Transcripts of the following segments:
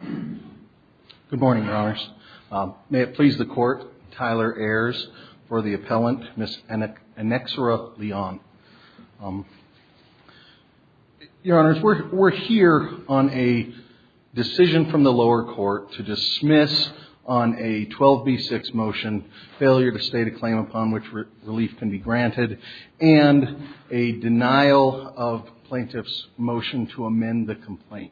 Good morning, Your Honors. May it please the Court, Tyler Ayers for the appellant, Ms. Annexura Leon. Your Honors, we're here on a decision from the lower court to dismiss on a 12b6 motion, failure to state a claim upon which relief can be granted, and a denial of plaintiff's motion to amend the complaint.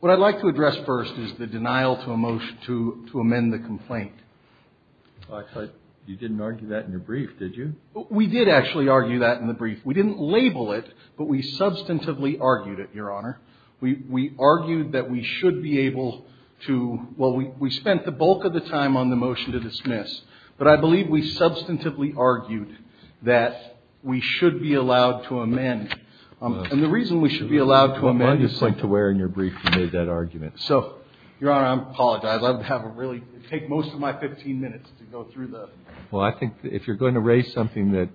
What I'd like to address first is the denial to a motion to amend the complaint. Well, actually, you didn't argue that in the brief, did you? We did actually argue that in the brief. We didn't label it, but we substantively argued it, Your Honor. We argued that we should be able to – well, we spent the bulk of the time on the motion to dismiss, but I believe we substantively argued that we should be allowed to amend. And the reason we should be allowed to amend is to – Well, I just went to where in your brief you made that argument. So, Your Honor, I apologize. I have a really – it would take most of my 15 minutes to go through the – Well, I think if you're going to raise something that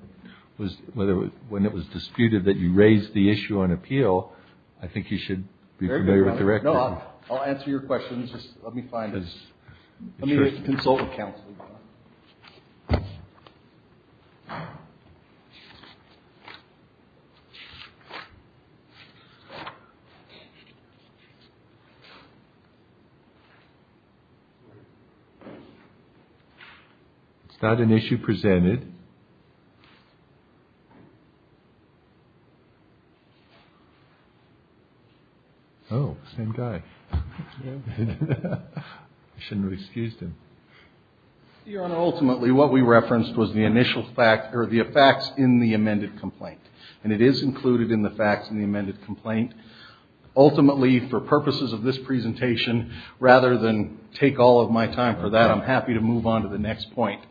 was – whether – when it was disputed that you raised the issue on appeal, I think you should be familiar with the record. No, I'll answer your questions. Just let me find his – let me consult with counsel, Your Honor. Is that an issue presented? Oh, same guy. I shouldn't have excused him. Your Honor, ultimately, what we referenced was the initial fact – or the facts in the amended complaint. And it is included in the facts in the amended complaint. Ultimately, for purposes of this presentation, rather than take all of my time for that, I'm happy to move on to the next point,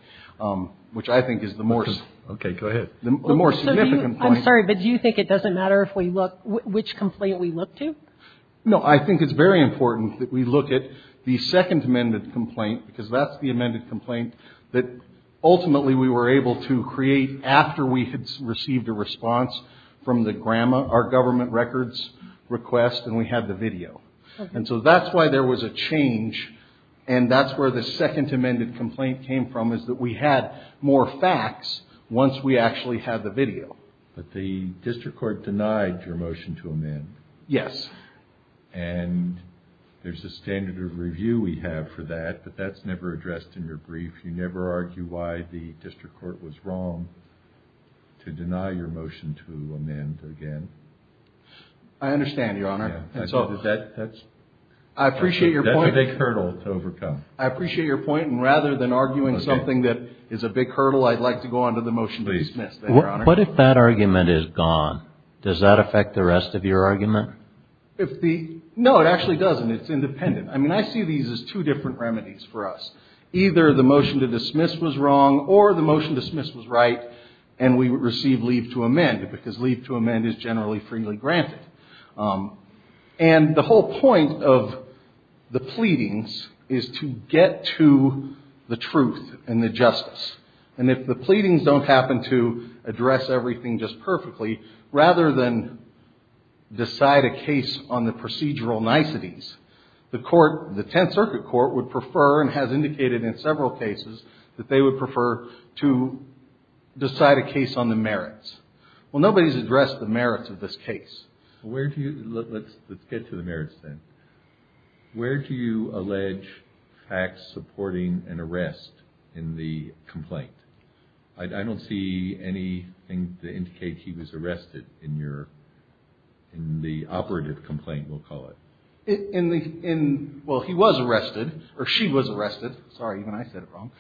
which I think is the more – Okay. Go ahead. The more significant point – I'm sorry, but do you think it doesn't matter if we look – which complaint we look to? No. I think it's very important that we look at the second amended complaint because that's the amended complaint that ultimately we were able to create after we had received a response from the – our government records request and we had the video. Okay. And so that's why there was a change and that's where the second amended complaint came from is that we had more facts once we actually had the video. But the district court denied your motion to amend. Yes. And there's a standard of review we have for that, but that's never addressed in your brief. You never argue why the district court was wrong to deny your motion to amend again. I understand, Your Honor. And so that's – I appreciate your point. That's a big hurdle to overcome. I appreciate your point, and rather than arguing something that is a big hurdle, I'd like to go on to the motion to dismiss, then, Your Honor. What if that argument is gone? Does that affect the rest of your argument? If the – no, it actually doesn't. It's independent. I mean, I see these as two different remedies for us. Either the motion to dismiss was wrong or the motion to dismiss was right and we would receive leave to amend because leave to amend is generally freely granted. And the whole point of the pleadings is to get to the truth and the justice. And if the pleadings don't happen to address everything just perfectly, rather than decide a case on the procedural niceties, the court – the Tenth Circuit Court would prefer and has indicated in several cases that they would prefer to decide a case on the merits. Well, nobody's addressed the merits of this case. Where do you – let's get to the merits, then. Where do you allege Fax supporting an arrest in the complaint? I don't see anything to indicate he was arrested in your – in the operative complaint, we'll call it. In the – well, he was arrested, or she was arrested. Sorry, even I said it wrong.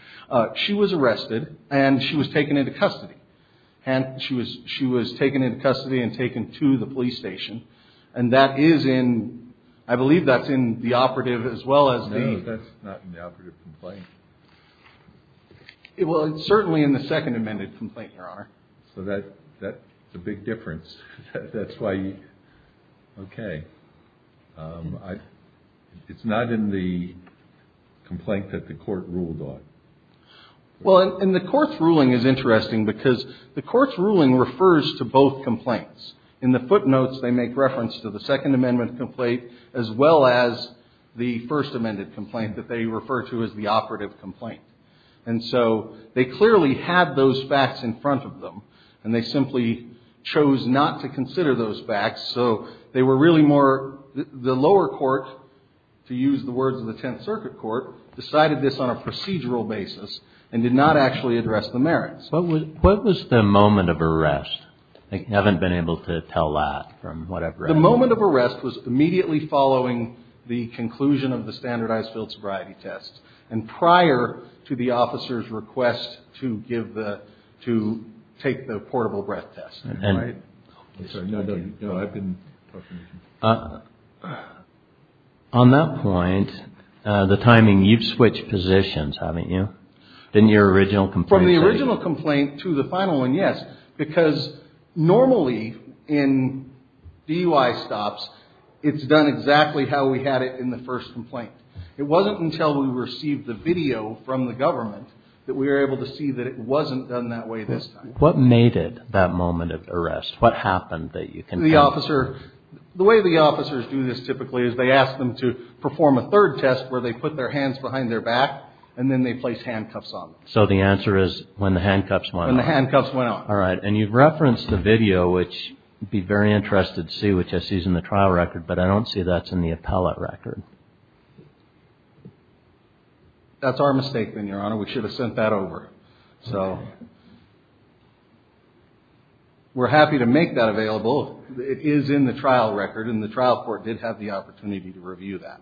She was arrested and she was taken into custody. She was taken into custody and taken to the police station. And that is in – I believe that's in the operative as well as the – No, that's not in the operative complaint. Well, it's certainly in the second amended complaint, Your Honor. So that's a big difference. That's why you – okay. It's not in the complaint that the court ruled on. Well, and the court's ruling is interesting because the court's ruling refers to both complaints. In the footnotes, they make reference to the second amendment complaint as well as the first amended complaint that they refer to as the operative complaint. And so they clearly had those facts in front of them, and they simply chose not to consider those facts. So they were really more – the lower court, to use the words of the Tenth Circuit Court, decided this on a procedural basis and did not actually address the merits. What was the moment of arrest? I haven't been able to tell that from what I've read. The moment of arrest was immediately following the conclusion of the standardized field sobriety test and prior to the officer's request to give the – to take the portable breath test, right? No, I've been talking to you. On that point, the timing – you've switched positions, haven't you? Didn't your original complaint say – To the final one, yes, because normally in DUI stops, it's done exactly how we had it in the first complaint. It wasn't until we received the video from the government that we were able to see that it wasn't done that way this time. What made it that moment of arrest? What happened that you can tell? The way the officers do this typically is they ask them to perform a third test where they put their hands behind their back and then they place handcuffs on them. So the answer is when the handcuffs went on. When the handcuffs went on. All right. And you've referenced the video, which I'd be very interested to see, which I see is in the trial record, but I don't see that's in the appellate record. That's our mistake then, Your Honor. We should have sent that over. So we're happy to make that available. It is in the trial record, and the trial court did have the opportunity to review that.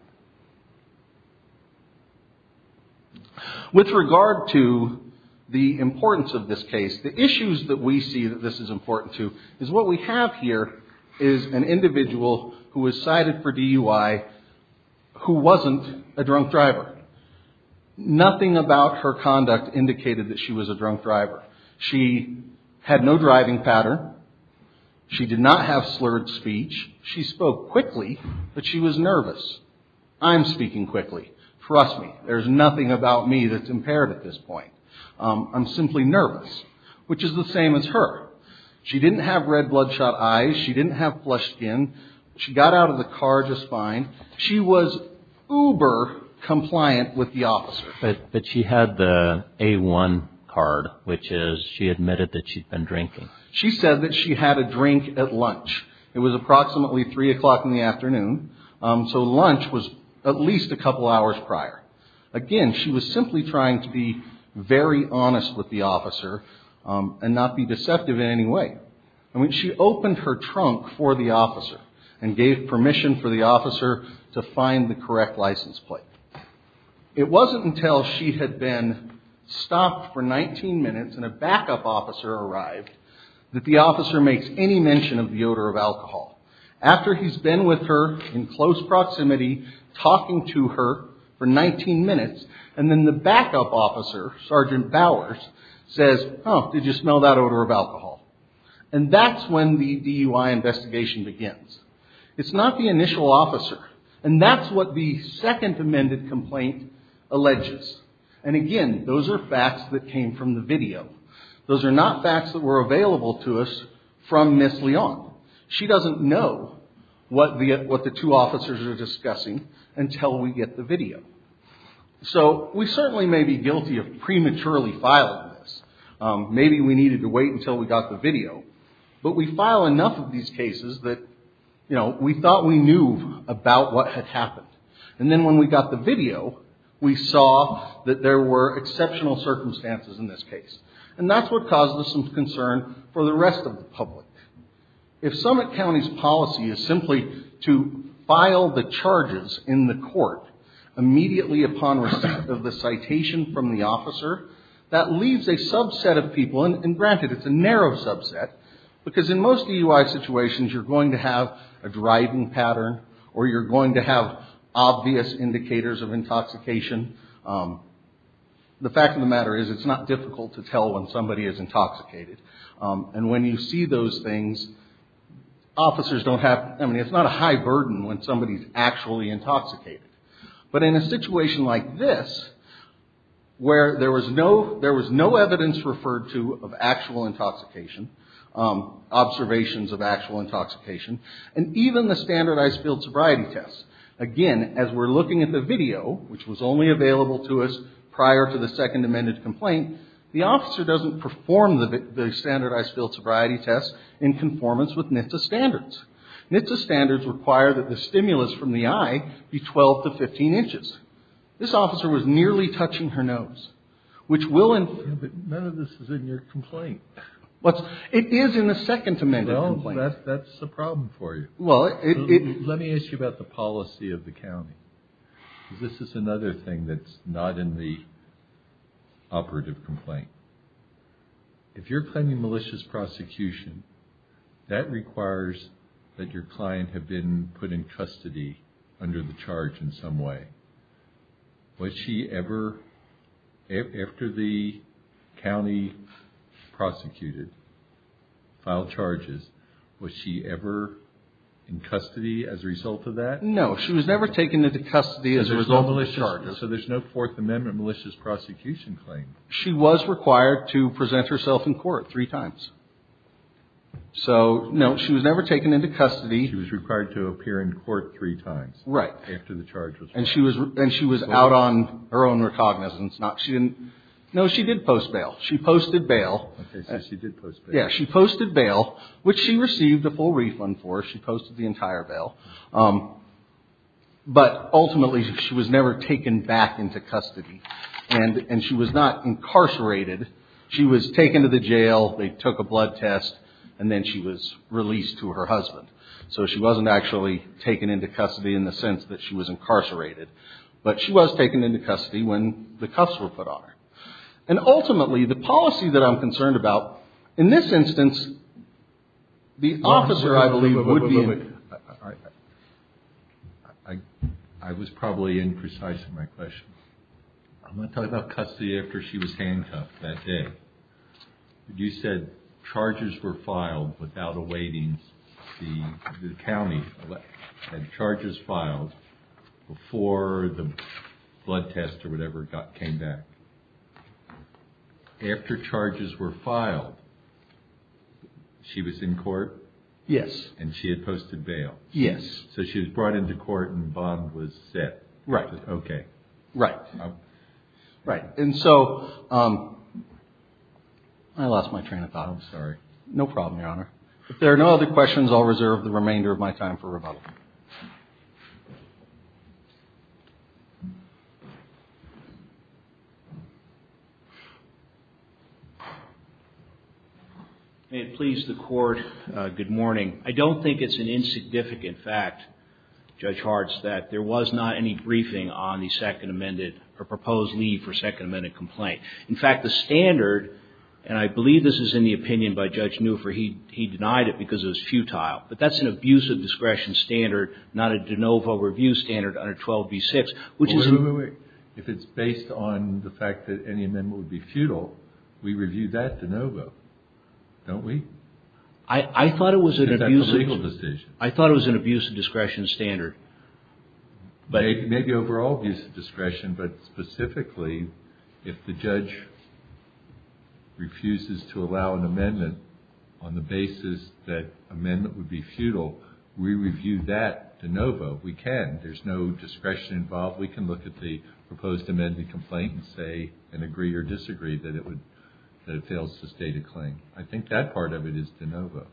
With regard to the importance of this case, the issues that we see that this is important to is what we have here is an individual who was cited for DUI who wasn't a drunk driver. Nothing about her conduct indicated that she was a drunk driver. She had no driving pattern. She did not have slurred speech. She spoke quickly, but she was nervous. I'm speaking quickly. Trust me. There's nothing about me that's impaired at this point. I'm simply nervous, which is the same as her. She didn't have red bloodshot eyes. She didn't have flushed skin. She got out of the car just fine. She was uber compliant with the officer. But she had the A1 card, which is she admitted that she'd been drinking. She said that she had a drink at lunch. It was approximately 3 o'clock in the afternoon. So lunch was at least a couple hours prior. Again, she was simply trying to be very honest with the officer and not be deceptive in any way. She opened her trunk for the officer and gave permission for the officer to find the correct license plate. It wasn't until she had been stopped for 19 minutes and a backup officer arrived that the officer makes any mention of the odor of alcohol. After he's been with her in close proximity, talking to her for 19 minutes, and then the backup officer, Sergeant Bowers, says, Oh, did you smell that odor of alcohol? And that's when the DUI investigation begins. It's not the initial officer. And that's what the second amended complaint alleges. And again, those are facts that came from the video. Those are not facts that were available to us from Ms. Leon. She doesn't know what the two officers are discussing until we get the video. So we certainly may be guilty of prematurely filing this. Maybe we needed to wait until we got the video. But we file enough of these cases that we thought we knew about what had happened. And then when we got the video, we saw that there were exceptional circumstances in this case. And that's what caused us some concern for the rest of the public. If Summit County's policy is simply to file the charges in the court immediately upon receipt of the citation from the officer, that leaves a subset of people, and granted, it's a narrow subset, because in most DUI situations you're going to have a driving pattern or you're going to have obvious indicators of intoxication. The fact of the matter is it's not difficult to tell when somebody is intoxicated. And when you see those things, officers don't have – I mean, it's not a high burden when somebody's actually intoxicated. But in a situation like this, where there was no evidence referred to of actual intoxication, observations of actual intoxication, and even the standardized field sobriety tests, again, as we're looking at the video, which was only available to us prior to the second amended complaint, the officer doesn't perform the standardized field sobriety tests in conformance with NHTSA standards. NHTSA standards require that the stimulus from the eye be 12 to 15 inches. This officer was nearly touching her nose, which will – But none of this is in your complaint. It is in the second amended complaint. Well, that's the problem for you. Let me ask you about the policy of the county. This is another thing that's not in the operative complaint. If you're planning malicious prosecution, that requires that your client have been put in custody under the charge in some way. Was she ever, after the county prosecuted, filed charges, was she ever in custody as a result of that? No. She was never taken into custody as a result of the charges. So there's no Fourth Amendment malicious prosecution claim. She was required to present herself in court three times. So, no, she was never taken into custody. She was required to appear in court three times. Right. After the charge was filed. And she was out on her own recognizance. No, she did post bail. She posted bail. Okay. So she did post bail. Yeah. She posted bail, which she received a full refund for. She posted the entire bail. But ultimately, she was never taken back into custody. And she was not incarcerated. She was taken to the jail. They took a blood test. And then she was released to her husband. So she wasn't actually taken into custody in the sense that she was incarcerated. But she was taken into custody when the cuffs were put on her. And ultimately, the policy that I'm concerned about, in this instance, the officer, I believe, would be in. I was probably imprecise in my question. I'm going to talk about custody after she was handcuffed that day. You said charges were filed without awaiting the county. Had charges filed before the blood test or whatever came back. After charges were filed, she was in court? Yes. And she had posted bail? Yes. So she was brought into court and bond was set. Right. Okay. Right. And so I lost my train of thought. I'm sorry. No problem, Your Honor. If there are no other questions, I'll reserve the remainder of my time for rebuttal. May it please the Court, good morning. I don't think it's an insignificant fact, Judge Hartz, that there was not any briefing on the second amended or proposed leave for second amended complaint. In fact, the standard, and I believe this is in the opinion by Judge Neufer, he denied it because it was futile. But that's an abuse of discretion standard, not a de novo review standard under 12b-6. Wait, wait, wait. If it's based on the fact that any amendment would be futile, we review that de novo, don't we? I thought it was an abuse of discretion standard. Maybe overall abuse of discretion, but specifically if the judge refuses to allow an amendment on the basis that amendment would be futile, we review that de novo. We can. There's no discretion involved. We can look at the proposed amended complaint and say and agree or disagree that it fails to state a claim. I think that part of it is de novo.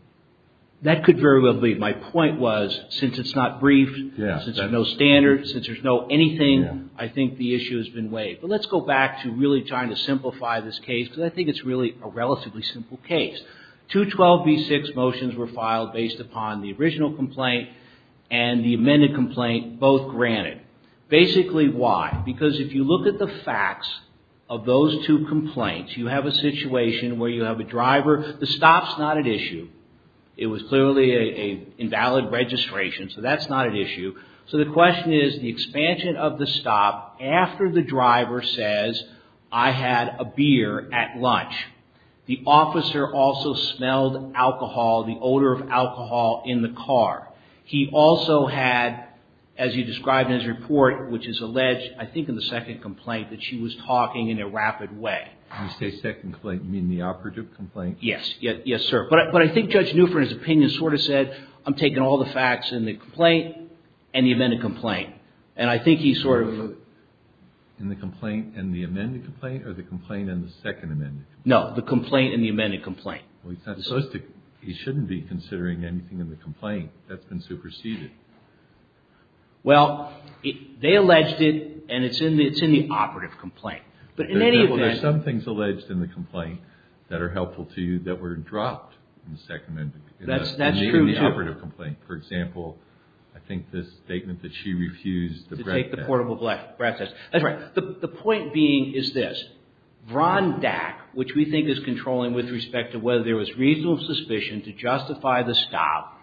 That could very well be. My point was since it's not briefed, since there's no standard, since there's no anything, I think the issue has been waived. But let's go back to really trying to simplify this case because I think it's really a relatively simple case. Two 12b-6 motions were filed based upon the original complaint and the amended complaint both granted. Basically why? Because if you look at the facts of those two complaints, you have a situation where you have a driver. The stop's not at issue. It was clearly an invalid registration, so that's not at issue. So the question is the expansion of the stop after the driver says I had a beer at lunch. The officer also smelled alcohol, the odor of alcohol in the car. He also had, as you described in his report, which is alleged I think in the second complaint, that she was talking in a rapid way. You say second complaint, you mean the operative complaint? Yes. Yes, sir. But I think Judge Newford's opinion sort of said I'm taking all the facts in the complaint and the amended complaint. And I think he sort of. In the complaint and the amended complaint or the complaint and the second amended complaint? No, the complaint and the amended complaint. He shouldn't be considering anything in the complaint that's been superseded. Well, they alleged it and it's in the operative complaint. But in any event. There are some things alleged in the complaint that are helpful to you that were dropped in the second amendment. That's true, too. In the operative complaint. For example, I think this statement that she refused to take the portable breath test. That's right. The point being is this. Vrondak, which we think is controlling with respect to whether there was reasonable suspicion to justify the stop.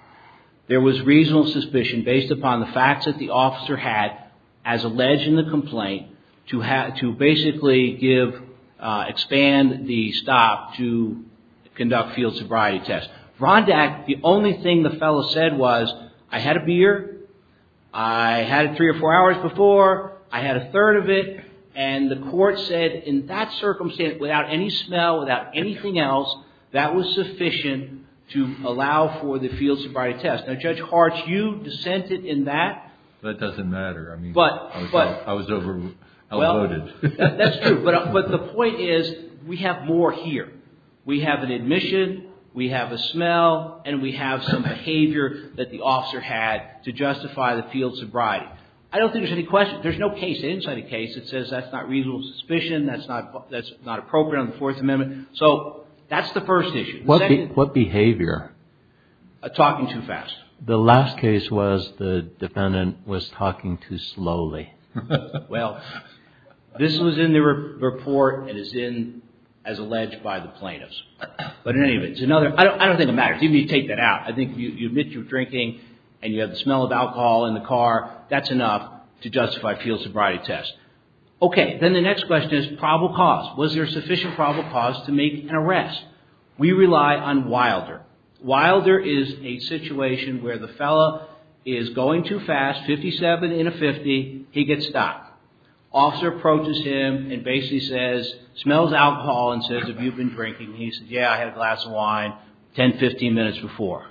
There was reasonable suspicion based upon the facts that the officer had as alleged in the complaint to basically expand the stop to conduct field sobriety tests. Vrondak, the only thing the fellow said was, I had a beer. I had it three or four hours before. I had a third of it. And the court said in that circumstance, without any smell, without anything else, that was sufficient to allow for the field sobriety test. Now, Judge Hart, you dissented in that. That doesn't matter. I mean, I was overloaded. That's true. But the point is we have more here. We have an admission. We have a smell. And we have some behavior that the officer had to justify the field sobriety. I don't think there's any question. There's no case inside the case that says that's not reasonable suspicion, that's not appropriate on the Fourth Amendment. So that's the first issue. What behavior? Talking too fast. The last case was the defendant was talking too slowly. Well, this was in the report and is in, as alleged, by the plaintiffs. But in any event, it's another. I don't think it matters. Even if you take that out. I think if you admit you're drinking and you have the smell of alcohol in the car, that's enough to justify a field sobriety test. Okay. Then the next question is probable cause. Was there sufficient probable cause to make an arrest? We rely on Wilder. Wilder is a situation where the fellow is going too fast, 57 in a 50, he gets stopped. Officer approaches him and basically says, smells alcohol and says, have you been drinking? He says, yeah, I had a glass of wine 10, 15 minutes before.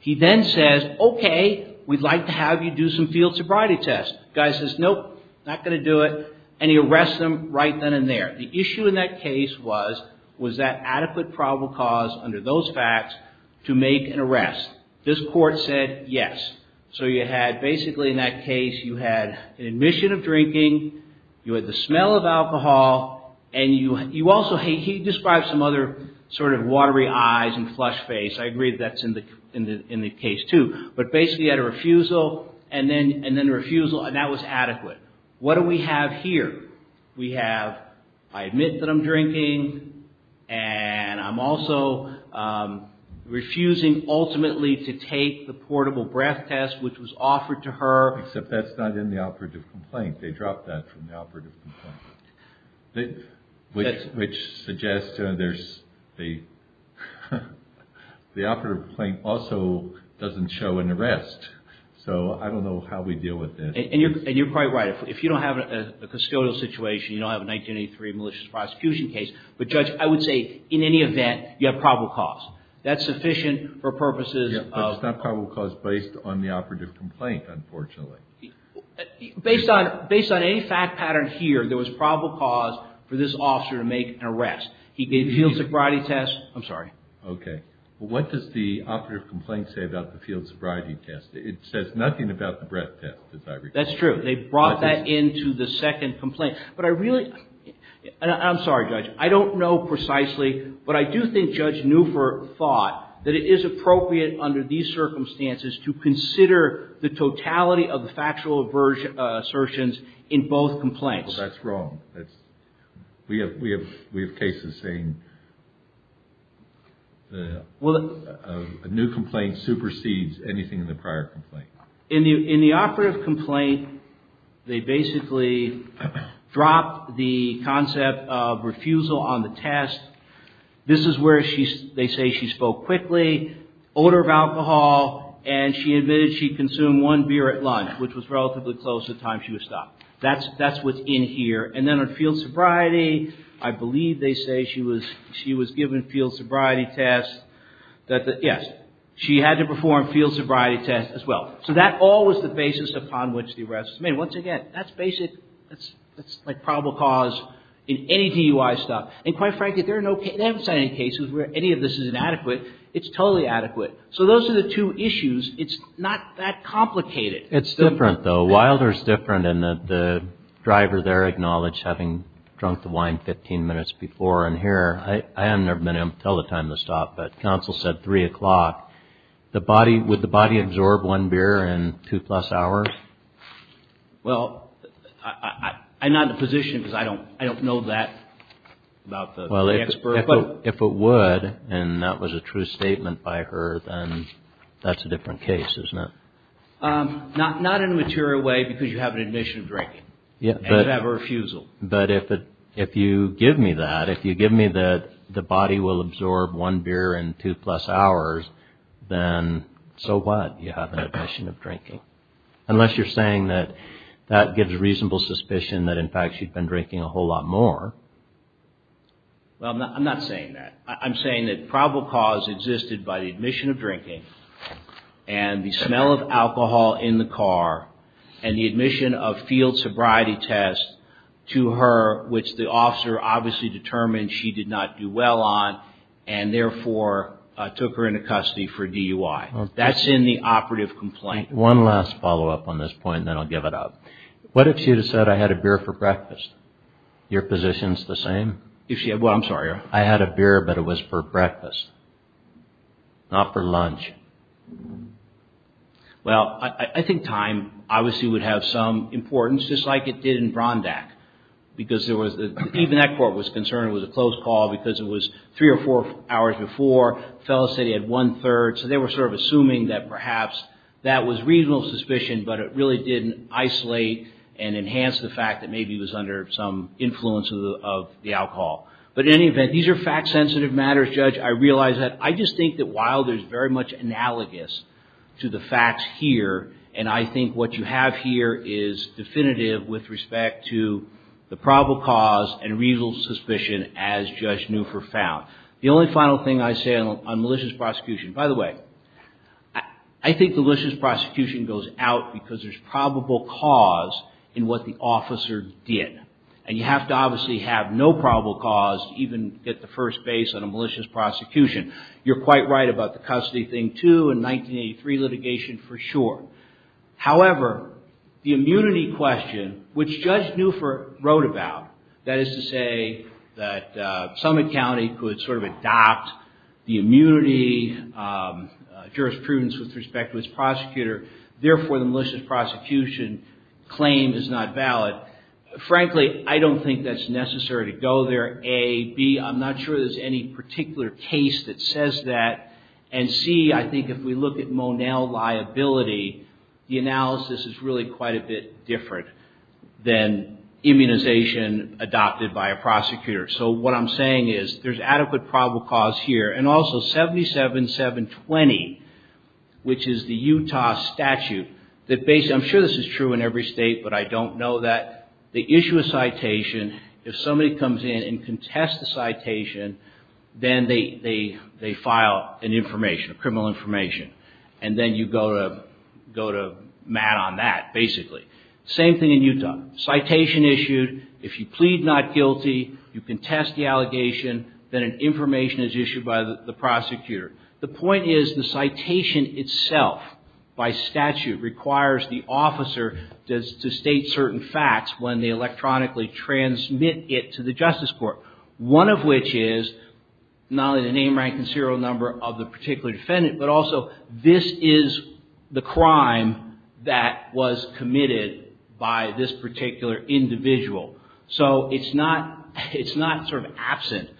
He then says, okay, we'd like to have you do some field sobriety tests. Guy says, nope, not going to do it. And he arrests him right then and there. The issue in that case was, was that adequate probable cause under those facts to make an arrest? This court said, yes. So you had basically in that case, you had an admission of drinking, you had the smell of alcohol, and you also, he described some other sort of watery eyes and flush face. I agree that's in the case too. But basically you had a refusal and then a refusal and that was adequate. What do we have here? We have, I admit that I'm drinking and I'm also refusing ultimately to take the portable breath test which was offered to her. Except that's not in the operative complaint. They dropped that from the operative complaint. Which suggests there's, the operative complaint also doesn't show an arrest. So I don't know how we deal with this. And you're quite right. If you don't have a custodial situation, you don't have a 1983 malicious prosecution case. But Judge, I would say in any event, you have probable cause. That's sufficient for purposes of. But it's not probable cause based on the operative complaint, unfortunately. Based on any fact pattern here, there was probable cause for this officer to make an arrest. He gave the field sobriety test. I'm sorry. Okay. What does the operative complaint say about the field sobriety test? It says nothing about the breath test, as I recall. That's true. They brought that into the second complaint. But I really, and I'm sorry, Judge, I don't know precisely. But I do think Judge Neufer thought that it is appropriate under these circumstances to consider the totality of the factual assertions in both complaints. That's wrong. We have cases saying a new complaint supersedes anything in the prior complaint. In the operative complaint, they basically dropped the concept of refusal on the test. This is where they say she spoke quickly, odor of alcohol, and she admitted she consumed one beer at lunch, which was relatively close to the time she was stopped. That's within here. And then on field sobriety, I believe they say she was given field sobriety tests. Yes. She had to perform field sobriety tests as well. So that all was the basis upon which the arrest was made. Once again, that's basic. That's like probable cause in any DUI stop. And quite frankly, there are no cases, I haven't seen any cases where any of this is inadequate. It's totally adequate. So those are the two issues. It's not that complicated. It's different, though. Wilder's different in that the driver there acknowledged having drunk the wine 15 minutes before. And here, I have never been able to tell the time to stop, but counsel said 3 o'clock. Would the body absorb one beer in two plus hours? Well, I'm not in a position because I don't know that about the expert. If it would, and that was a true statement by her, then that's a different case, isn't it? Not in a material way because you have an admission of drinking. And you have a refusal. But if you give me that, if you give me that the body will absorb one beer in two plus hours, then so what? You have an admission of drinking. Unless you're saying that that gives reasonable suspicion that, in fact, she'd been drinking a whole lot more. Well, I'm not saying that. I'm saying that probable cause existed by the admission of drinking and the smell of alcohol in the car and the admission of field sobriety test to her, which the officer obviously determined she did not do well on and therefore took her into custody for DUI. That's in the operative complaint. One last follow-up on this point, and then I'll give it up. What if she had said, I had a beer for breakfast? Your position's the same? Well, I'm sorry. I had a beer, but it was for breakfast, not for lunch. Well, I think time obviously would have some importance, just like it did in Brondack. Because even that court was concerned it was a closed call because it was three or four hours before. The fellow said he had one-third. So they were sort of assuming that perhaps that was reasonable suspicion, but it really didn't isolate and enhance the fact that maybe he was under some influence of the alcohol. But in any event, these are fact-sensitive matters, Judge. I realize that. I just think that while there's very much analogous to the facts here, and I think what you have here is definitive with respect to the probable cause and reasonable suspicion, as Judge Newfor found. The only final thing I say on malicious prosecution, by the way, I think malicious prosecution goes out because there's probable cause in what the officer did. And you have to obviously have no probable cause to even get the first base on a malicious prosecution. You're quite right about the custody thing, too, in 1983 litigation for sure. However, the immunity question, which Judge Newfor wrote about, that is to say that Summit County could sort of adopt the immunity jurisprudence with respect to its prosecutor, therefore, the malicious prosecution claim is not valid. Frankly, I don't think that's necessary to go there, A. B, I'm not sure there's any particular case that says that. And C, I think if we look at Monell liability, the analysis is really quite a bit different than immunization adopted by a prosecutor. So what I'm saying is there's adequate probable cause here. And also 77720, which is the Utah statute, I'm sure this is true in every state, but I don't know that. The issue of citation, if somebody comes in and contests the citation, then they file an information, a criminal information. And then you go to Matt on that, basically. Same thing in Utah. Citation issued, if you plead not guilty, you contest the allegation, then an information is issued by the prosecutor. The point is the citation itself by statute requires the officer to state certain facts when they electronically transmit it to the justice court. One of which is not only the name, rank and serial number of the particular defendant, but also this is the crime that was committed by this particular individual. So it's not sort of absent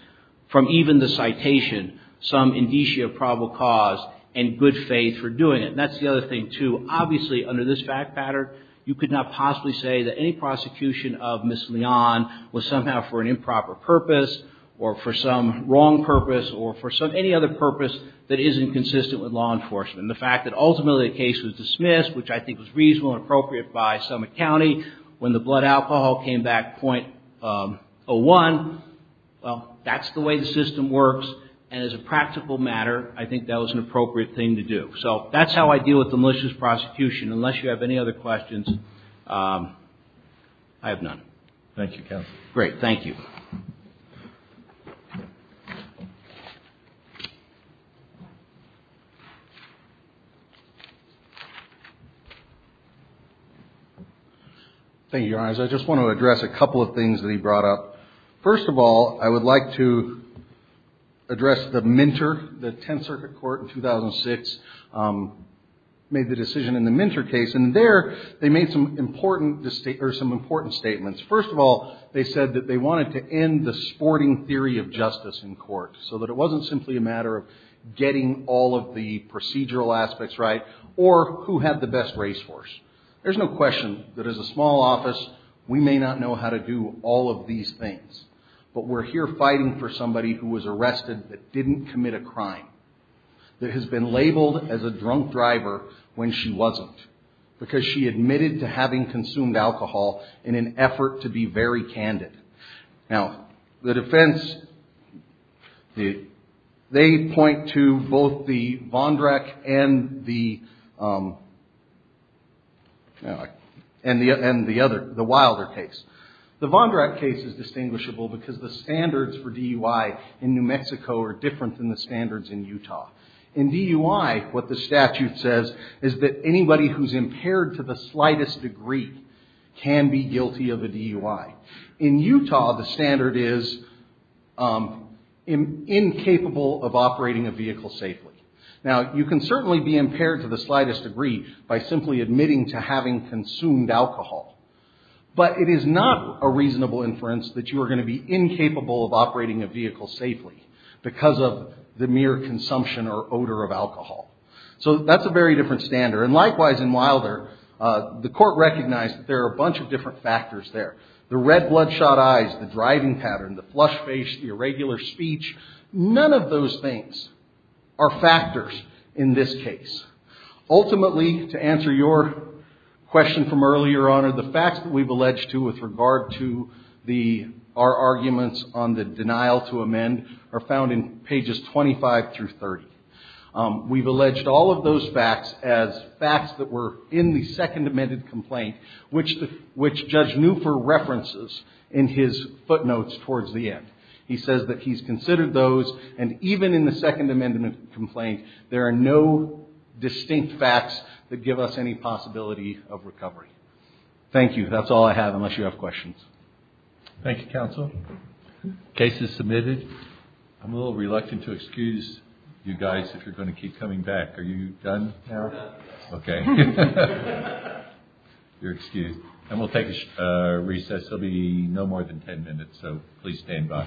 from even the citation, some indicia of probable cause and good faith for doing it. And that's the other thing, too. Obviously, under this fact pattern, you could not possibly say that any prosecution of Ms. Leon was somehow for an improper purpose or for some wrong purpose or for any other purpose that isn't consistent with law enforcement. The fact that ultimately the case was dismissed, which I think was reasonable and appropriate by some county, when the blood alcohol came back .01, well, that's the way the system works. And as a practical matter, I think that was an appropriate thing to do. So that's how I deal with the malicious prosecution. Unless you have any other questions, I have none. Thank you, counsel. Great. Thank you. Thank you, Your Honors. I just want to address a couple of things that he brought up. First of all, I would like to address the Minter. The Tenth Circuit Court in 2006 made the decision in the Minter case. And there they made some important statements. First of all, they said that they wanted to end the sporting theory of justice in court so that it wasn't simply a matter of getting all of the procedural aspects right or who had the best racehorse. There's no question that as a small office, we may not know how to do all of these things. But we're here fighting for somebody who was arrested that didn't commit a crime, that has been labeled as a drunk driver when she wasn't, because she admitted to having consumed alcohol in an effort to be very candid. Now, the defense, they point to both the Vondrack and the Wilder case. The Vondrack case is distinguishable because the standards for DUI in New Mexico are different than the standards in Utah. In DUI, what the statute says is that anybody who's impaired to the slightest degree can be guilty of a DUI. In Utah, the standard is incapable of operating a vehicle safely. Now, you can certainly be impaired to the slightest degree by simply admitting to having consumed alcohol. But it is not a reasonable inference that you are going to be incapable of operating a vehicle safely because of the mere consumption or odor of alcohol. So that's a very different standard. And likewise in Wilder, the court recognized that there are a bunch of different factors there. The red bloodshot eyes, the driving pattern, the flush face, the irregular speech, none of those things are factors in this case. Ultimately, to answer your question from earlier on, the facts that we've alleged to with regard to our arguments on the denial to amend are found in pages 25 through 30. We've alleged all of those facts as facts that were in the second amended complaint, which Judge Newfer references in his footnotes towards the end. He says that he's considered those, and even in the second amended complaint, there are no distinct facts that give us any possibility of recovery. Thank you. That's all I have, unless you have questions. Thank you, counsel. Case is submitted. I'm a little reluctant to excuse you guys if you're going to keep coming back. Are you done? We're done. Okay. You're excused. And we'll take a recess. There will be no more than ten minutes, so please stand by.